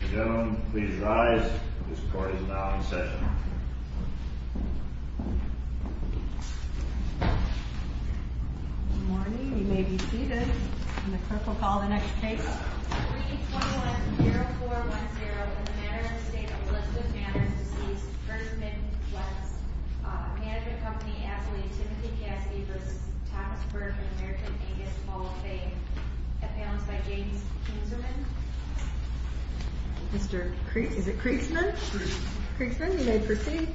Ladies and gentlemen, please rise. This court is now in session. Good morning. You may be seated. And the clerk will call the next case. 321-0410, in the matter of the state of Elizabeth Manor's decease, Curtis Mid Wealth Management Co. v. Timothy Caskey v. Thomas Burke, in American Vegas, Falls Bay, found by James Kinserman. Mr. Kriegsman, you may proceed.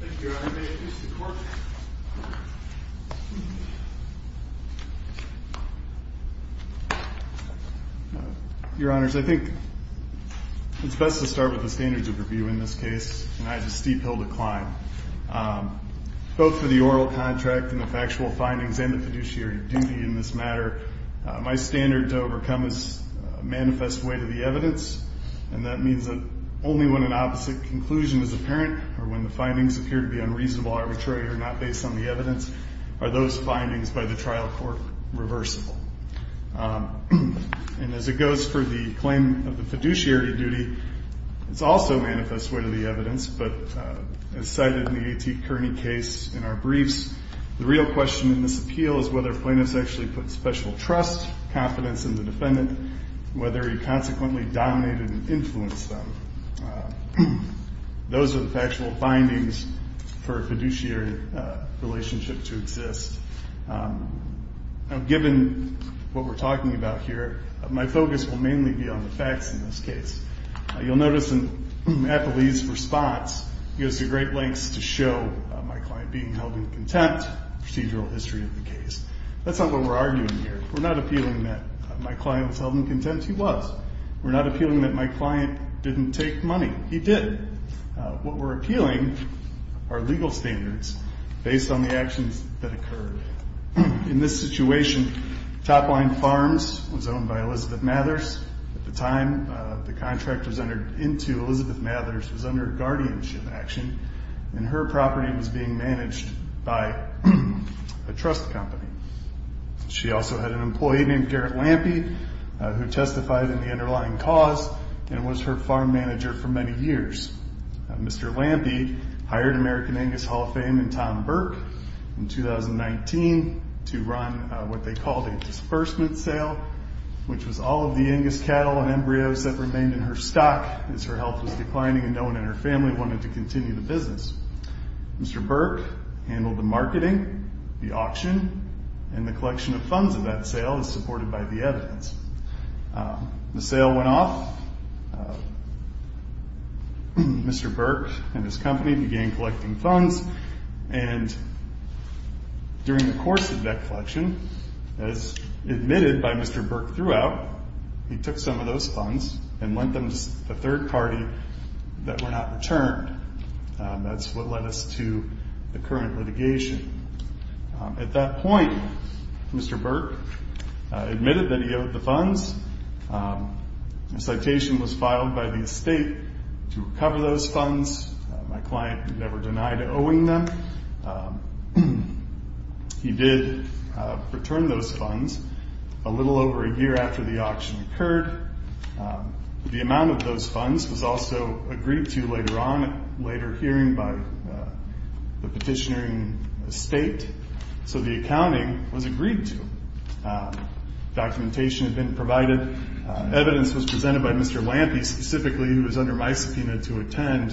Thank you, Your Honor. May it please the court. Your Honors, I think it's best to start with the standards of review in this case. And I have a steep hill to climb. Both for the oral contract and the factual findings and the fiduciary duty in this matter, my standard to overcome is a manifest way to the evidence. And that means that only when an opposite conclusion is apparent or when the findings appear to be unreasonable, arbitrary, or not based on the evidence are those findings by the trial court reversible. And as it goes for the claim of the fiduciary duty, it's also a manifest way to the evidence. But as cited in the A.T. Kearney case in our briefs, the real question in this appeal is whether plaintiffs actually put special trust, confidence in the defendant, whether he consequently dominated and influenced them. Those are the factual findings for a fiduciary relationship to exist. Now, given what we're talking about here, my focus will mainly be on the facts in this case. You'll notice in Eppley's response, he goes to great lengths to show my client being held in contempt, procedural history of the case. That's not what we're arguing here. We're not appealing that my client was held in contempt. He was. We're not appealing that my client didn't take money. He did. What we're appealing are legal standards based on the actions that occurred. In this situation, Top Line Farms was owned by Elizabeth Mathers. At the time the contract was entered into, Elizabeth Mathers was under guardianship action, and her property was being managed by a trust company. She also had an employee named Garrett Lampe who testified in the underlying cause and was her farm manager for many years. Mr. Lampe hired American Angus Hall of Fame and Tom Burke in 2019 to run what they called a disbursement sale, which was all of the Angus cattle and embryos that remained in her stock as her health was declining and no one in her family wanted to continue the business. Mr. Burke handled the marketing, the auction, and the collection of funds of that sale, as supported by the evidence. The sale went off. Mr. Burke and his company began collecting funds, and during the course of that collection, as admitted by Mr. Burke throughout, he took some of those funds and lent them to a third party that were not returned. That's what led us to the current litigation. At that point, Mr. Burke admitted that he owed the funds. A citation was filed by the estate to recover those funds. My client never denied owing them. He did return those funds a little over a year after the auction occurred. The amount of those funds was also agreed to later on at a later hearing by the petitioner in the estate, so the accounting was agreed to. Documentation had been provided. Evidence was presented by Mr. Lampe specifically, who was under my subpoena, to attend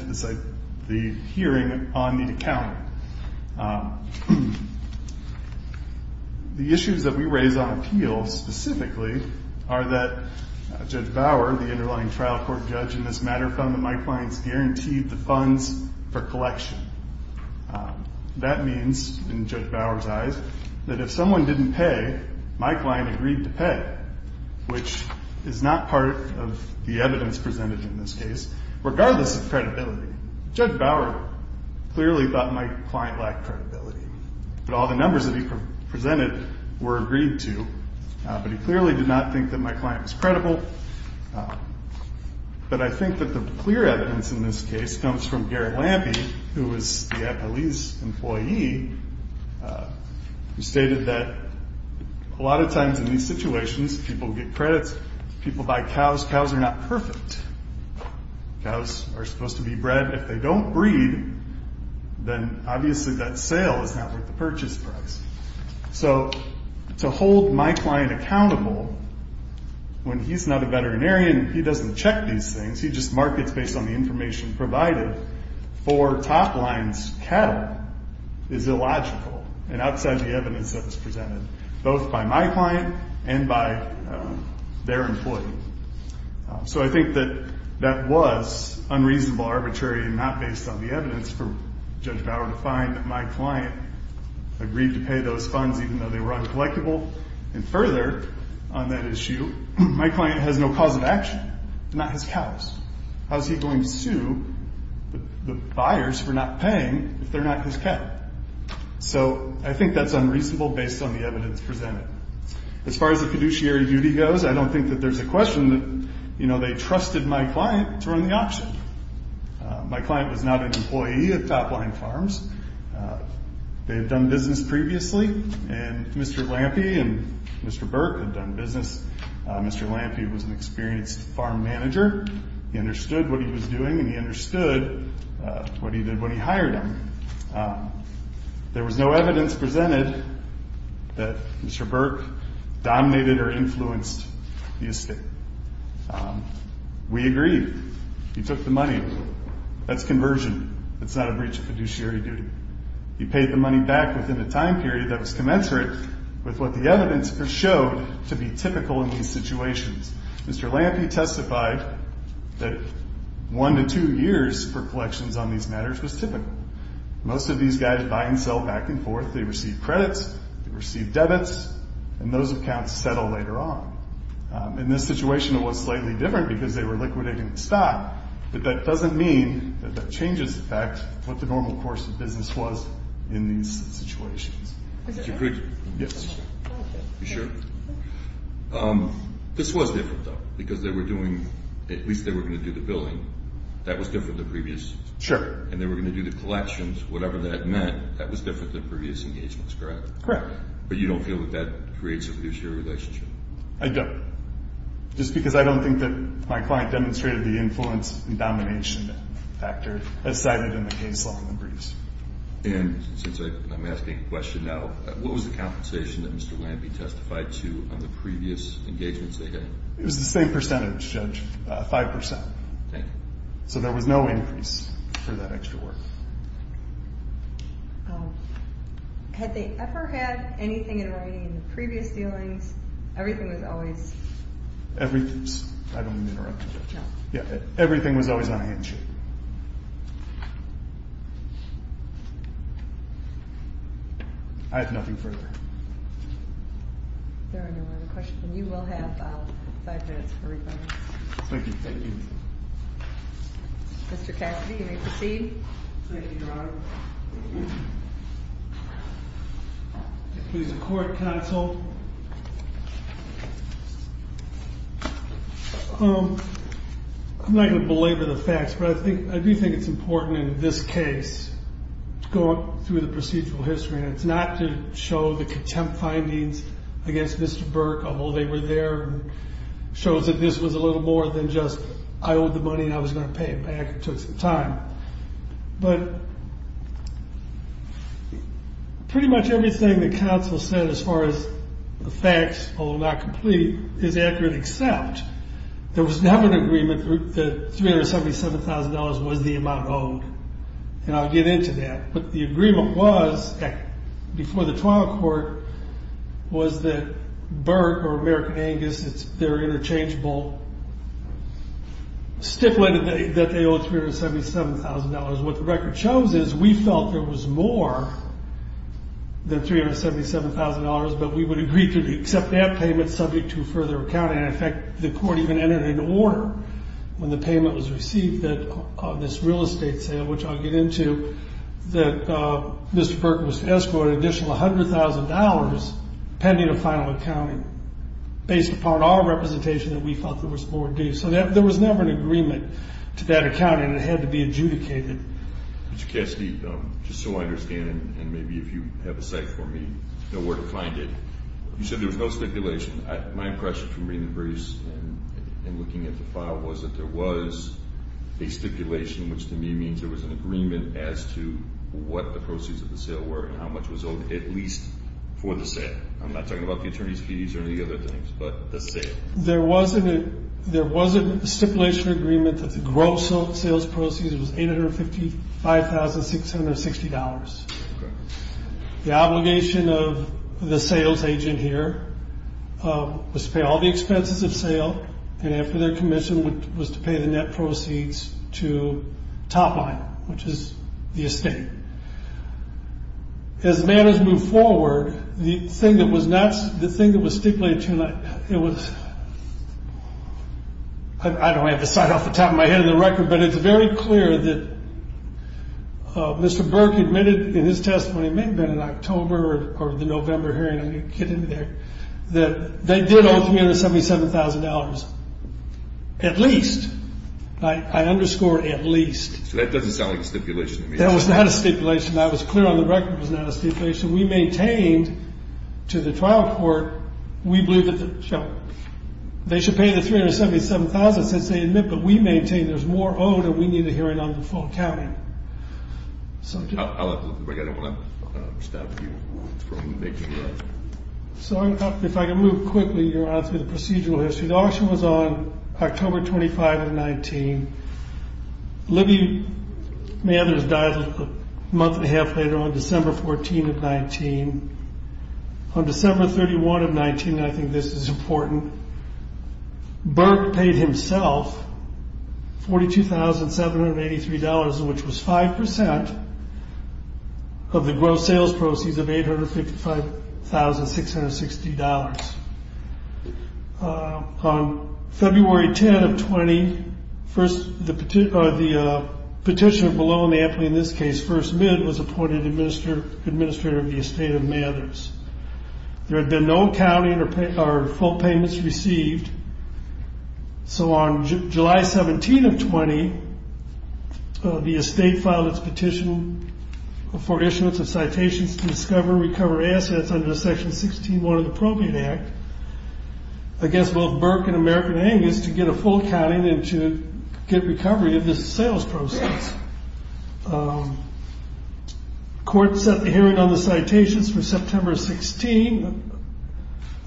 the hearing on the accounting. The issues that we raise on appeal specifically are that Judge Bauer, the underlying trial court judge in this matter, found that my client's guaranteed the funds for collection. That means, in Judge Bauer's eyes, that if someone didn't pay, my client agreed to pay, which is not part of the evidence presented in this case, regardless of credibility. Judge Bauer clearly thought my client lacked credibility, but all the numbers that he presented were agreed to. But he clearly did not think that my client was credible. But I think that the clear evidence in this case comes from Garrett Lampe, who was the appellee's employee, who stated that a lot of times in these situations, people get credits. People buy cows. Cows are not perfect. Cows are supposed to be bred. If they don't breed, then obviously that sale is not worth the purchase price. So to hold my client accountable when he's not a veterinarian, he doesn't check these things. He just markets based on the information provided for Top Line's cattle is illogical and outside the evidence that was presented, both by my client and by their employee. So I think that that was unreasonable, arbitrary, and not based on the evidence for Judge Bauer to find that my client agreed to pay those funds, even though they were uncollectible. And further on that issue, my client has no cause of action, not his cows. How is he going to sue the buyers for not paying if they're not his cow? So I think that's unreasonable based on the evidence presented. As far as the fiduciary duty goes, I don't think that there's a question that they trusted my client to run the auction. My client was not an employee at Top Line Farms. They had done business previously, and Mr. Lampe and Mr. Burke had done business. Mr. Lampe was an experienced farm manager. He understood what he was doing, and he understood what he did when he hired him. There was no evidence presented that Mr. Burke dominated or influenced the estate. We agreed. He took the money. That's conversion. It's not a breach of fiduciary duty. He paid the money back within a time period that was commensurate with what the evidence showed to be typical in these situations. Mr. Lampe testified that one to two years for collections on these matters was typical. Most of these guys buy and sell back and forth. They receive credits. They receive debits, and those accounts settle later on. In this situation, it was slightly different because they were liquidating the stock, but that doesn't mean that that changes the fact what the normal course of business was in these situations. You agreed? Yes. You sure? This was different, though, because they were doing, at least they were going to do the billing. That was different than previous. Sure. And they were going to do the collections, whatever that meant. That was different than previous engagements, correct? Correct. But you don't feel that that creates a fiduciary relationship? I don't, just because I don't think that my client demonstrated the influence and domination factor as cited in the case law in the briefs. And since I'm asking a question now, what was the compensation that Mr. Lampe testified to on the previous engagements they had? It was the same percentage, Judge, 5%. Okay. So there was no increase for that extra work. Had they ever had anything in writing in the previous dealings? Everything was always? I don't mean to interrupt you, Judge. No. Yeah, everything was always on a handshake. I have nothing further. If there are no other questions, then you will have five minutes for rebuttals. Thank you. Thank you. Mr. Cassidy, you may proceed. Thank you, Your Honor. If there's a court counsel. I'm not going to belabor the facts, but I do think it's important in this case to go up through the procedural history. And it's not to show the contempt findings against Mr. Burke, although they were there. It shows that this was a little more than just I owed the money and I was going to pay it back. It took some time. But pretty much everything the counsel said as far as the facts, although not complete, is accurate except there was never an agreement that $377,000 was the amount owed. And I'll get into that. But the agreement was, before the trial court, was that Burke or American Angus, their interchangeable stipulated that they owed $377,000. What the record shows is we felt there was more than $377,000, but we would agree to accept that payment subject to further accounting. And, in fact, the court even entered into order when the payment was received that this real estate sale, which I'll get into, that Mr. Burke was to escort an additional $100,000 pending a final accounting based upon our representation that we felt there was more due. So there was never an agreement to that accounting. It had to be adjudicated. Mr. Cassidy, just so I understand, and maybe if you have a cite for me, know where to find it, you said there was no stipulation. My impression from reading the briefs and looking at the file was that there was a stipulation, which to me means there was an agreement as to what the proceeds of the sale were and how much was owed, at least for the sale. I'm not talking about the attorney's fees or any other things, but the sale. There was a stipulation agreement that the gross sales proceeds was $855,660. Okay. The obligation of the sales agent here was to pay all the expenses of sale, and after their commission was to pay the net proceeds to Topline, which is the estate. As matters moved forward, the thing that was stipulated to you, it was – I don't have the cite off the top of my head in the record, but it's very clear that Mr. Burke admitted in his testimony, it may have been in October or the November hearing, I'm going to get into there, that they did owe $377,000, at least. I underscore at least. So that doesn't sound like a stipulation to me. That was not a stipulation. That was clear on the record. It was not a stipulation. We maintained to the trial court, we believe that the – the process, as they admit, but we maintain there's more owed and we need a hearing on the full accounting. I don't want to stop you from making that. So if I can move quickly, your Honor, through the procedural history. The auction was on October 25 of 19. Libby Mathers died a month and a half later on December 14 of 19. On December 31 of 19, and I think this is important, Burke paid himself $42,783, which was 5% of the gross sales proceeds of $855,660. On February 10 of 20, the petitioner below in the ampli in this case, first mid, was appointed administrator of the estate of Mathers. There had been no accounting or full payments received. So on July 17 of 20, the estate filed its petition for issuance of citations to discover and recover assets under Section 16-1 of the Appropriate Act against both Burke and American Angus to get a full accounting and to get recovery of this sales proceeds. The court set the hearing on the citations for September 16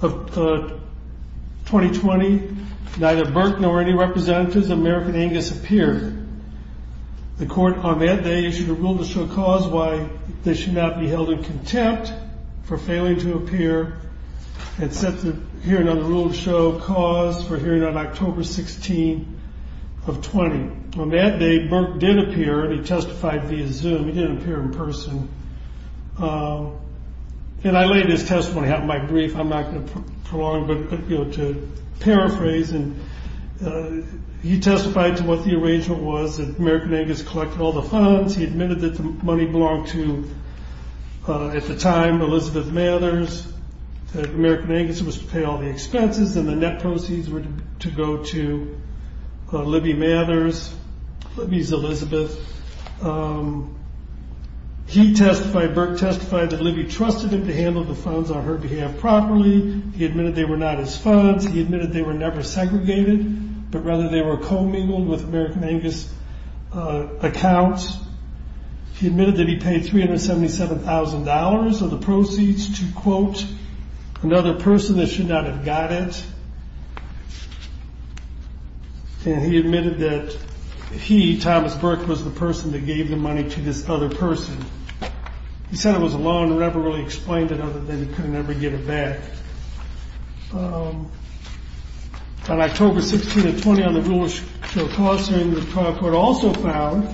of 2020. Neither Burke nor any representatives of American Angus appeared. The court on that day issued a rule to show cause why they should not be held in contempt for failing to appear and set the hearing on the rule to show cause for hearing on October 16 of 20. On that day, Burke did appear. He testified via Zoom. He didn't appear in person. And I laid his testimony out in my brief. I'm not going to prolong, but to paraphrase, he testified to what the arrangement was that American Angus collected all the funds. He admitted that the money belonged to, at the time, Elizabeth Mathers, that American Angus was to pay all the expenses and the net proceeds were to go to Libby Mathers. Libby's Elizabeth. He testified, Burke testified that Libby trusted him to handle the funds on her behalf properly. He admitted they were not his funds. He admitted they were never segregated, but rather they were commingled with American Angus accounts. He admitted that he paid $377,000 of the proceeds to, quote, another person that should not have got it. And he admitted that he, Thomas Burke, was the person that gave the money to this other person. He said it was a law and never really explained it other than he couldn't ever get it back. On October 16 of 20 on the rule to show cause for hearing, the trial court also found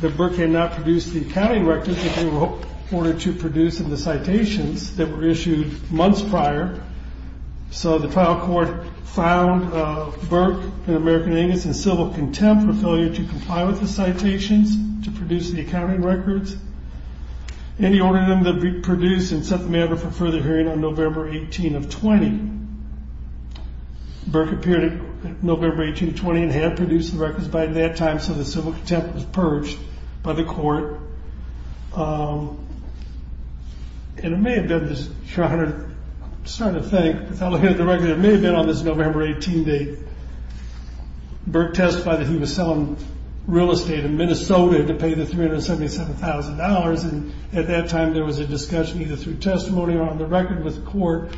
that Burke had not produced the accounting records that they were ordered to produce in the citations that were issued months prior. So the trial court found Burke and American Angus in civil contempt for failure to comply with the citations to produce the accounting records. And he ordered them to be produced and set the matter for further hearing on November 18 of 20. Burke appeared on November 18 of 20 and had produced the records by that time, so the civil contempt was purged by the court. And it may have been, I'm starting to think, it may have been on this November 18 date, Burke testified that he was selling real estate in Minnesota to pay the $377,000, and at that time there was a discussion either through testimony or on the record with the court.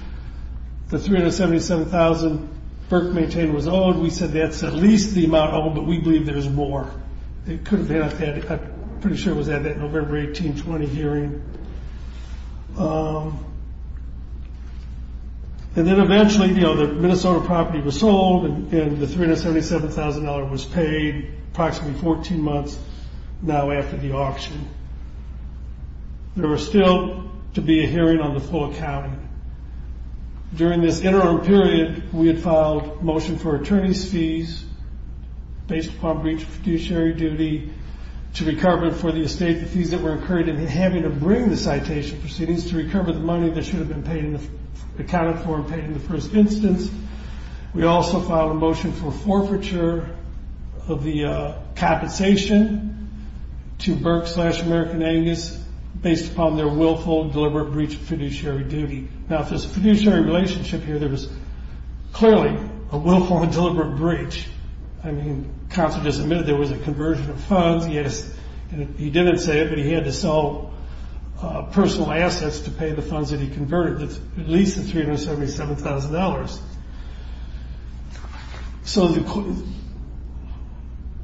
The $377,000 Burke maintained was owed. We said that's at least the amount owed, but we believe there's more. It could have been, I'm pretty sure it was at that November 18 of 20 hearing. And then eventually the Minnesota property was sold and the $377,000 was paid, approximately 14 months now after the auction. There was still to be a hearing on the full accounting. During this interim period, we had filed a motion for attorney's fees based upon breach of fiduciary duty to recover for the estate the fees that were incurred in having to bring the citation proceedings to recover the money that should have been paid, accounted for and paid in the first instance. We also filed a motion for forfeiture of the compensation to Burke slash American Angus based upon their willful and deliberate breach of fiduciary duty. Now, if there's a fiduciary relationship here, there was clearly a willful and deliberate breach. I mean, counsel just admitted there was a conversion of funds. He didn't say it, but he had to sell personal assets to pay the funds that he converted, at least the $377,000. So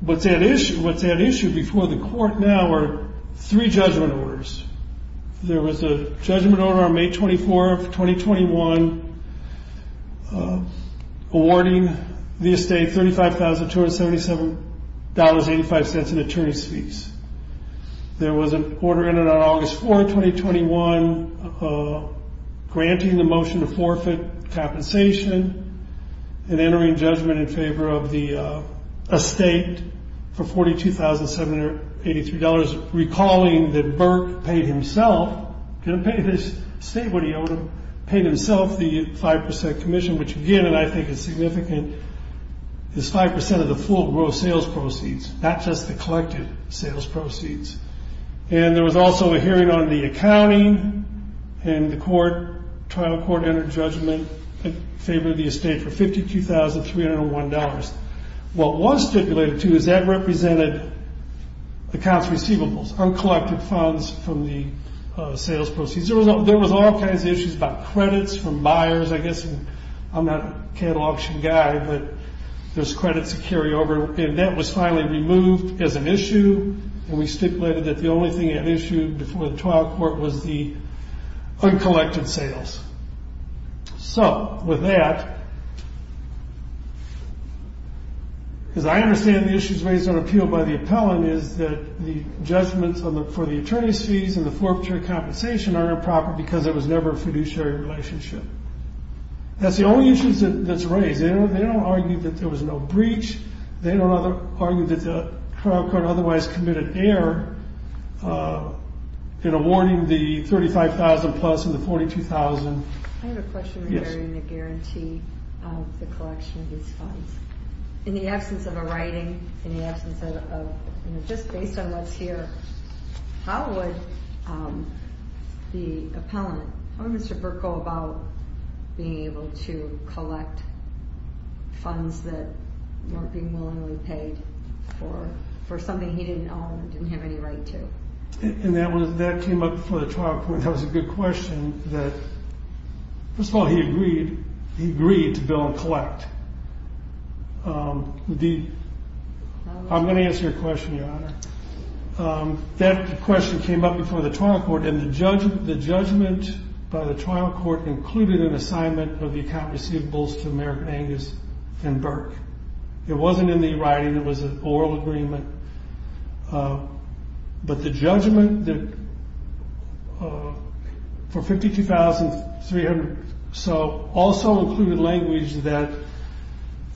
what's at issue before the court now are three judgment orders. There was a judgment order on May 24, 2021, awarding the estate $35,277.85 in attorney's fees. There was an order entered on August 4, 2021, granting the motion to forfeit compensation and entering judgment in favor of the estate for $42,783, recalling that Burke paid himself, didn't pay his estate what he owed him, paid himself the 5% commission, which again, and I think is significant, is 5% of the full gross sales proceeds, not just the collected sales proceeds. And there was also a hearing on the accounting, and the trial court entered judgment in favor of the estate for $52,301. What was stipulated, too, is that represented accounts receivables, uncollected funds from the sales proceeds. There was all kinds of issues about credits from buyers, I guess, and I'm not a cattle auction guy, but there's credits to carry over. And that was finally removed as an issue, and we stipulated that the only thing that was issued before the trial court was the uncollected sales. So with that, as I understand the issues raised on appeal by the appellant is that the judgments for the attorney's fees and the forfeiture compensation are improper because it was never a fiduciary relationship. That's the only issue that's raised. They don't argue that there was no breach. They don't argue that the trial court otherwise committed error in awarding the $35,000 plus and the $42,000. I have a question regarding the guarantee of the collection of these funds. In the absence of a writing, in the absence of just based on what's here, how would the appellant, how would Mr. Burke go about being able to collect funds that weren't being willingly paid for something he didn't own and didn't have any right to? That came up before the trial court. That was a good question. First of all, he agreed to bill and collect. I'm going to answer your question, Your Honor. That question came up before the trial court, and the judgment by the trial court included an assignment of the account receivables to American Angus and Burke. It wasn't in the writing. It was an oral agreement. But the judgment for $52,300 or so also included language that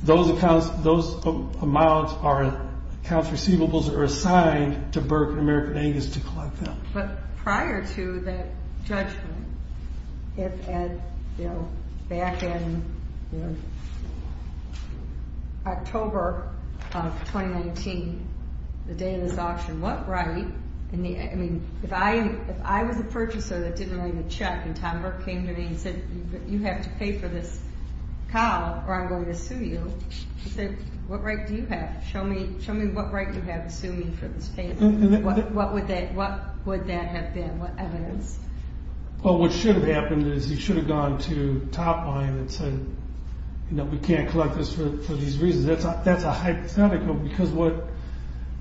those accounts, those amounts, accounts receivables are assigned to Burke and American Angus to collect them. But prior to that judgment, back in October of 2019, the day this auction went right, if I was a purchaser that didn't write a check and Tom Burke came to me and said, you have to pay for this cow or I'm going to sue you, he said, what right do you have? Show me what right you have to sue me for this payment. What would that have been? What evidence? Well, what should have happened is he should have gone to Topline and said, you know, we can't collect this for these reasons. That's a hypothetical because what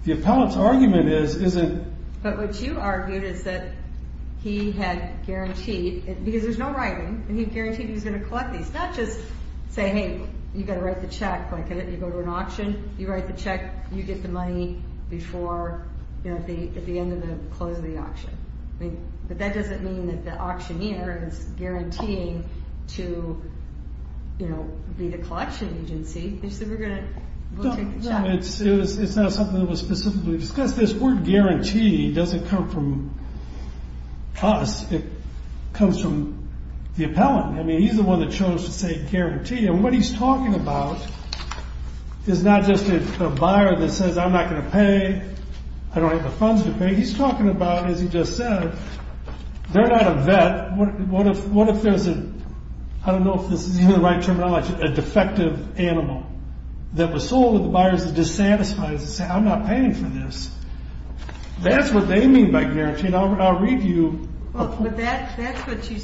the appellant's argument is isn't... But what you argued is that he had guaranteed, because there's no writing, and he guaranteed he was going to collect these, not just say, hey, you've got to write the check, like you go to an auction, you write the check, you get the money before, you know, at the end of the close of the auction. But that doesn't mean that the auctioneer is guaranteeing to, you know, be the collection agency. He said, we're going to take the check. It's not something that was specifically discussed. This word guarantee doesn't come from us. It comes from the appellant. I mean, he's the one that chose to say guarantee. And what he's talking about is not just a buyer that says, I'm not going to pay, I don't have the funds to pay. He's talking about, as he just said, they're not a vet. What if there's a, I don't know if this is even the right terminology, a defective animal that was sold to the buyers that dissatisfied, that said, I'm not paying for this. That's what they mean by guarantee. But that's what you,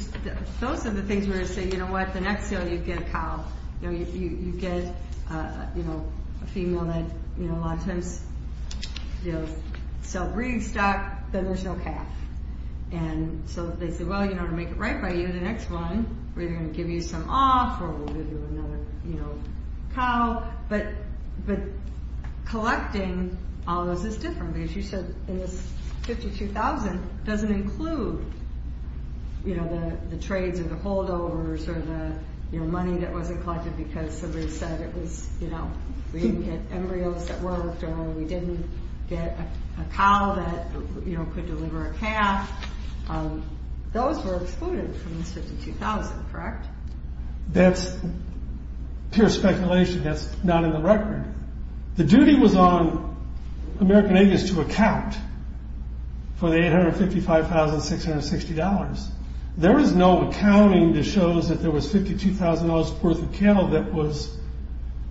those are the things where you say, you know what, the next sale you get a cow. You know, you get, you know, a female that, you know, a lot of times, you know, sell breed stock, then there's no calf. And so they say, well, you know, to make it right by you, the next one we're either going to give you some off, or we'll give you another, you know, cow. But collecting all of those is different. Because you said in this 52,000 doesn't include, you know, the trades or the holdovers or the, you know, money that wasn't collected because somebody said it was, you know, we didn't get embryos that worked or we didn't get a cow that, you know, could deliver a calf. Those were excluded from this 52,000, correct? That's pure speculation. That's not in the record. The duty was on American Agents to account for the $855,660. There is no accounting that shows that there was $52,000 worth of cattle that was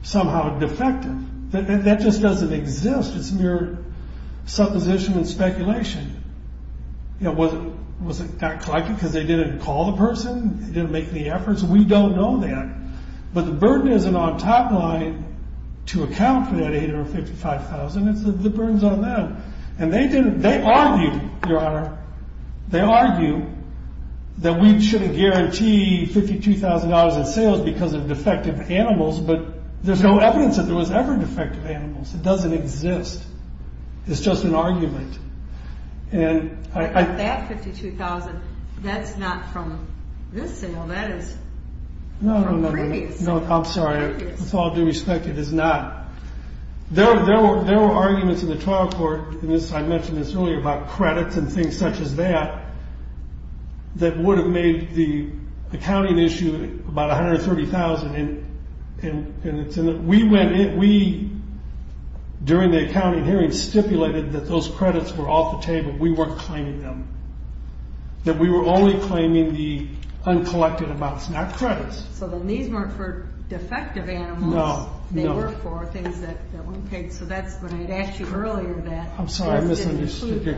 somehow defective. That just doesn't exist. It's mere supposition and speculation. You know, was it not collected because they didn't call the person? They didn't make any efforts? We don't know that. But the burden isn't on Topline to account for that $855,660. It's the burden's on them. And they argue, Your Honor, they argue that we shouldn't guarantee $52,000 in sales because of defective animals, but there's no evidence that there was ever defective animals. It doesn't exist. It's just an argument. That 52,000, that's not from this sale. Well, that is from previous. No, I'm sorry. With all due respect, it is not. There were arguments in the trial court, and I mentioned this earlier, about credits and things such as that, that would have made the accounting issue about $130,000. And we went in. We, during the accounting hearing, stipulated that those credits were off the table. We weren't claiming them. That we were only claiming the uncollected amounts, not credits. So then these weren't for defective animals. No. They were for things that weren't paid. So that's what I had asked you earlier about. I'm sorry, I misunderstood your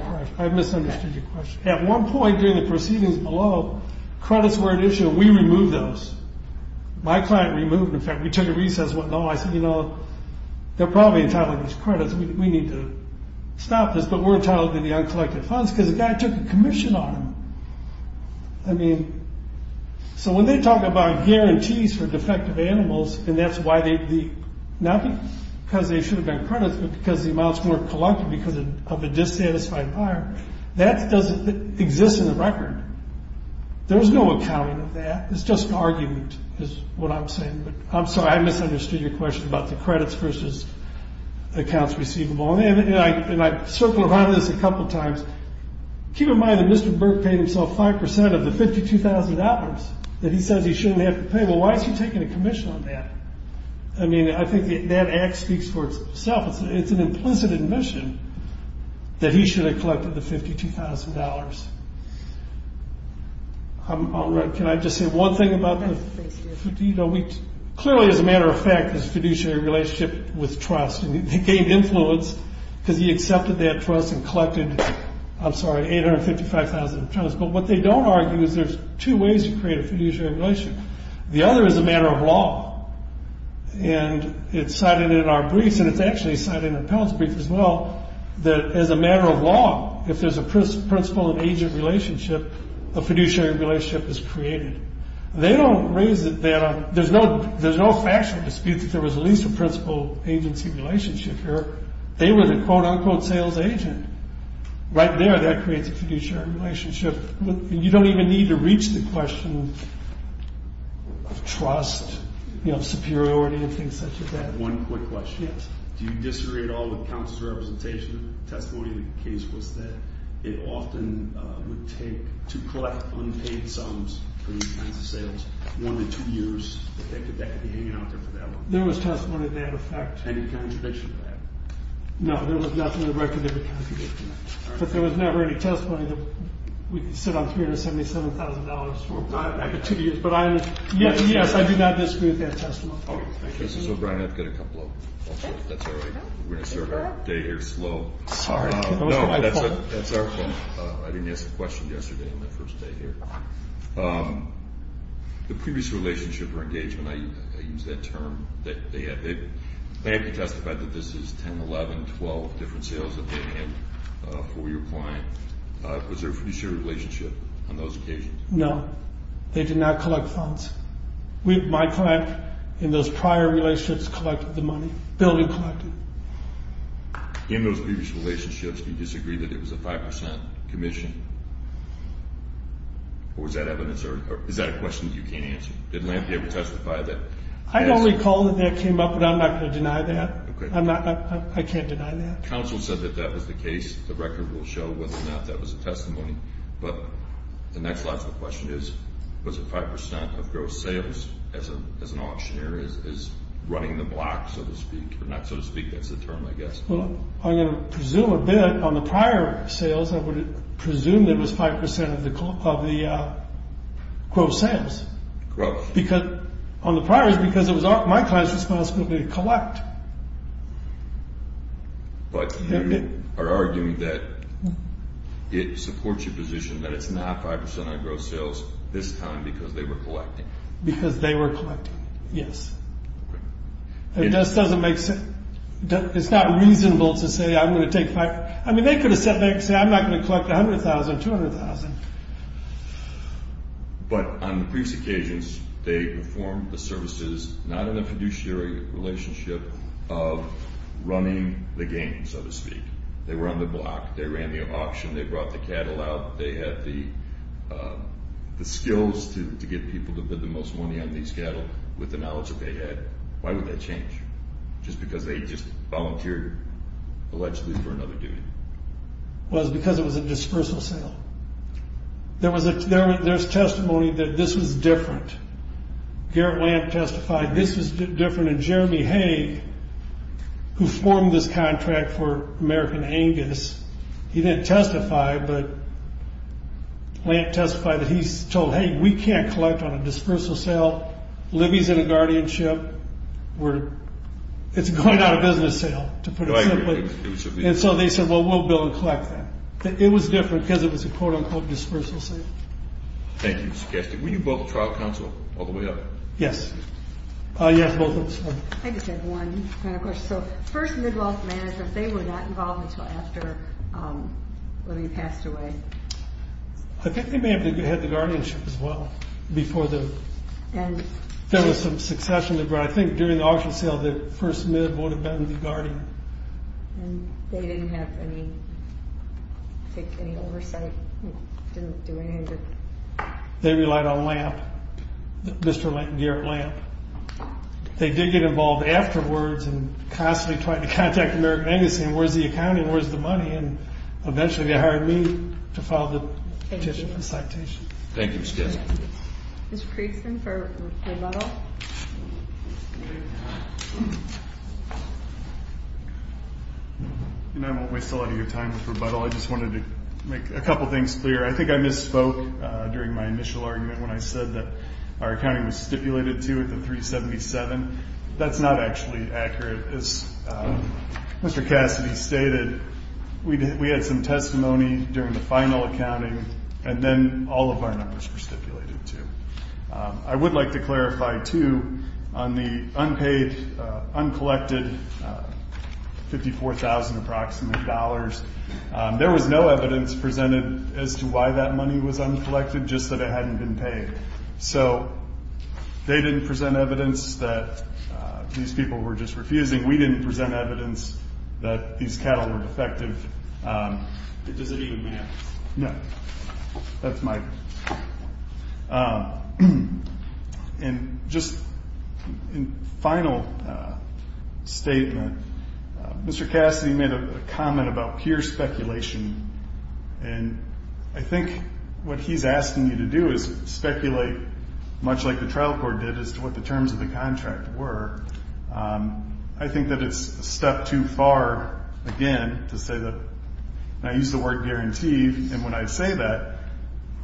question. At one point during the proceedings below, credits were an issue, and we removed those. My client removed them. In fact, we took a recess and went, no, I said, you know, they're probably entitled to these credits. We need to stop this, but we're entitled to the uncollected funds because the guy took a commission on them. I mean, so when they talk about guarantees for defective animals, and that's why they, not because they should have been credits, but because the amount's more collected because of a dissatisfied buyer, that doesn't exist in the record. There's no accounting of that. It's just argument is what I'm saying. I'm sorry, I misunderstood your question about the credits versus accounts receivable. And I circled around this a couple times. Keep in mind that Mr. Burke paid himself 5% of the $52,000 that he says he shouldn't have to pay. Well, why is he taking a commission on that? I mean, I think that act speaks for itself. It's an implicit admission that he should have collected the $52,000. Can I just say one thing about the fiduciary relationship? They gained influence because he accepted that trust and collected, I'm sorry, $855,000 of trust. But what they don't argue is there's two ways to create a fiduciary relationship. The other is a matter of law. And it's cited in our briefs, and it's actually cited in Appellate's brief as well, that as a matter of law, if there's a principal and agent relationship, a fiduciary relationship is created. They don't raise it that way. There's no factual dispute that there was at least a principal-agency relationship here. They were the quote-unquote sales agent. Right there, that creates a fiduciary relationship. You don't even need to reach the question of trust, you know, superiority and things such as that. One quick question. Do you disagree at all with counsel's representation? The testimony in the case was that it often would take to collect unpaid sums for these kinds of sales, one in two years, that that could be hanging out there for that long. There was testimony to that effect. Any contradiction to that? No, there was nothing in the record that would contradict that. But there was never any testimony that we could sit on $377,000 for a period of two years. But yes, I do not disagree with that testimony. This is O'Brien. I've got a couple of them. That's all right. We're going to start our day here slow. Sorry. No, that's our fault. I didn't ask a question yesterday on my first day here. The previous relationship or engagement, I use that term, they have to testify that this is 10, 11, 12 different sales that they had for your client. Was there a fiduciary relationship on those occasions? No. They did not collect funds. My client, in those prior relationships, collected the money. Building collected. In those previous relationships, do you disagree that it was a 5% commission? Or is that evidence or is that a question that you can't answer? Did Lampe ever testify that? I don't recall that that came up, but I'm not going to deny that. I can't deny that. Counsel said that that was the case. The record will show whether or not that was a testimony. The next logical question is was it 5% of gross sales as an auctioneer is running the block, so to speak. Or not so to speak. That's the term, I guess. I'm going to presume a bit. On the prior sales, I would presume it was 5% of the gross sales. Gross. But you are arguing that it supports your position that it's not 5% of the gross sales this time because they were collecting. Because they were collecting, yes. It just doesn't make sense. It's not reasonable to say, I'm going to take 5%. I mean, they could have said, I'm not going to collect $100,000, $200,000. But on the previous occasions, they performed the services not in a fiduciary relationship of running the game, so to speak. They were on the block. They ran the auction. They brought the cattle out. They had the skills to get people to bid the most money on these cattle with the knowledge that they had. Why would that change? Just because they just volunteered allegedly for another duty. Well, it's because it was a dispersal sale. There's testimony that this was different. Garrett Lamp testified this was different. And Jeremy Hague, who formed this contract for American Angus, he didn't testify. But Lamp testified that he's told, hey, we can't collect on a dispersal sale. Libby's in a guardianship. It's going out of business sale, to put it simply. And so they said, well, we'll build and collect then. It was different because it was a quote-unquote dispersal sale. Thank you, Mr. Kessler. Were you both trial counsel all the way up? Yes. Yes, both of us were. I just have one kind of question. So first mid-wealth managers, they were not involved until after Libby passed away. I think they may have had the guardianship as well before the end. There was some succession, but I think during the auction sale, the first mid would have been the guardian. And they didn't have any oversight, didn't do anything? They relied on Lamp, Mr. Garrett Lamp. They did get involved afterwards and constantly trying to contact American Angus and where's the accounting, where's the money, and eventually they hired me to file the petition for citation. Thank you, Mr. Kessler. Mr. Creason for rebuttal. I won't waste a lot of your time with rebuttal. I just wanted to make a couple things clear. I think I misspoke during my initial argument when I said that our accounting was stipulated to at the 377. That's not actually accurate. As Mr. Cassidy stated, we had some testimony during the final accounting, and then all of our numbers were stipulated too. I would like to clarify too on the unpaid, uncollected $54,000 approximate dollars. There was no evidence presented as to why that money was uncollected, just that it hadn't been paid. So they didn't present evidence that these people were just refusing. We didn't present evidence that these cattle were defective. Does it even matter? No. That's my point. And just a final statement. Mr. Cassidy made a comment about peer speculation, and I think what he's asking you to do is speculate much like the trial court did as to what the terms of the contract were. I think that it's a step too far, again, to say that, and I use the word guarantee, and when I say that,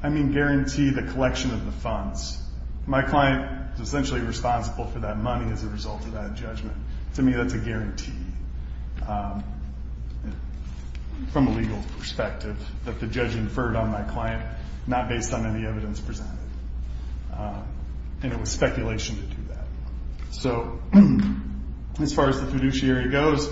I mean guarantee the collection of the funds. My client is essentially responsible for that money as a result of that judgment. To me, that's a guarantee from a legal perspective that the judge inferred on my client, not based on any evidence presented. And it was speculation to do that. So as far as the fiduciary goes,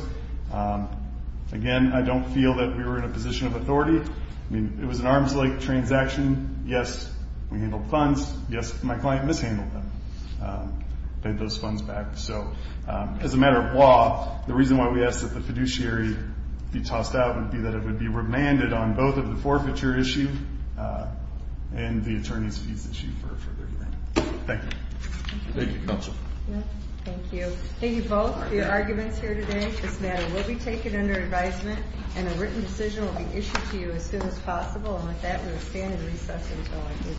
again, I don't feel that we were in a position of authority. I mean, it was an arms-length transaction. Yes, we handled funds. Yes, my client mishandled them, paid those funds back. So as a matter of law, the reason why we ask that the fiduciary be tossed out would be that it would be remanded on both of the forfeiture issue and the attorney's fees issue for a further hearing. Thank you. Thank you, counsel. Thank you. Thank you both for your arguments here today. This matter will be taken under advisement, and a written decision will be issued to you as soon as possible. And with that, we will stand in recess until I hear from you.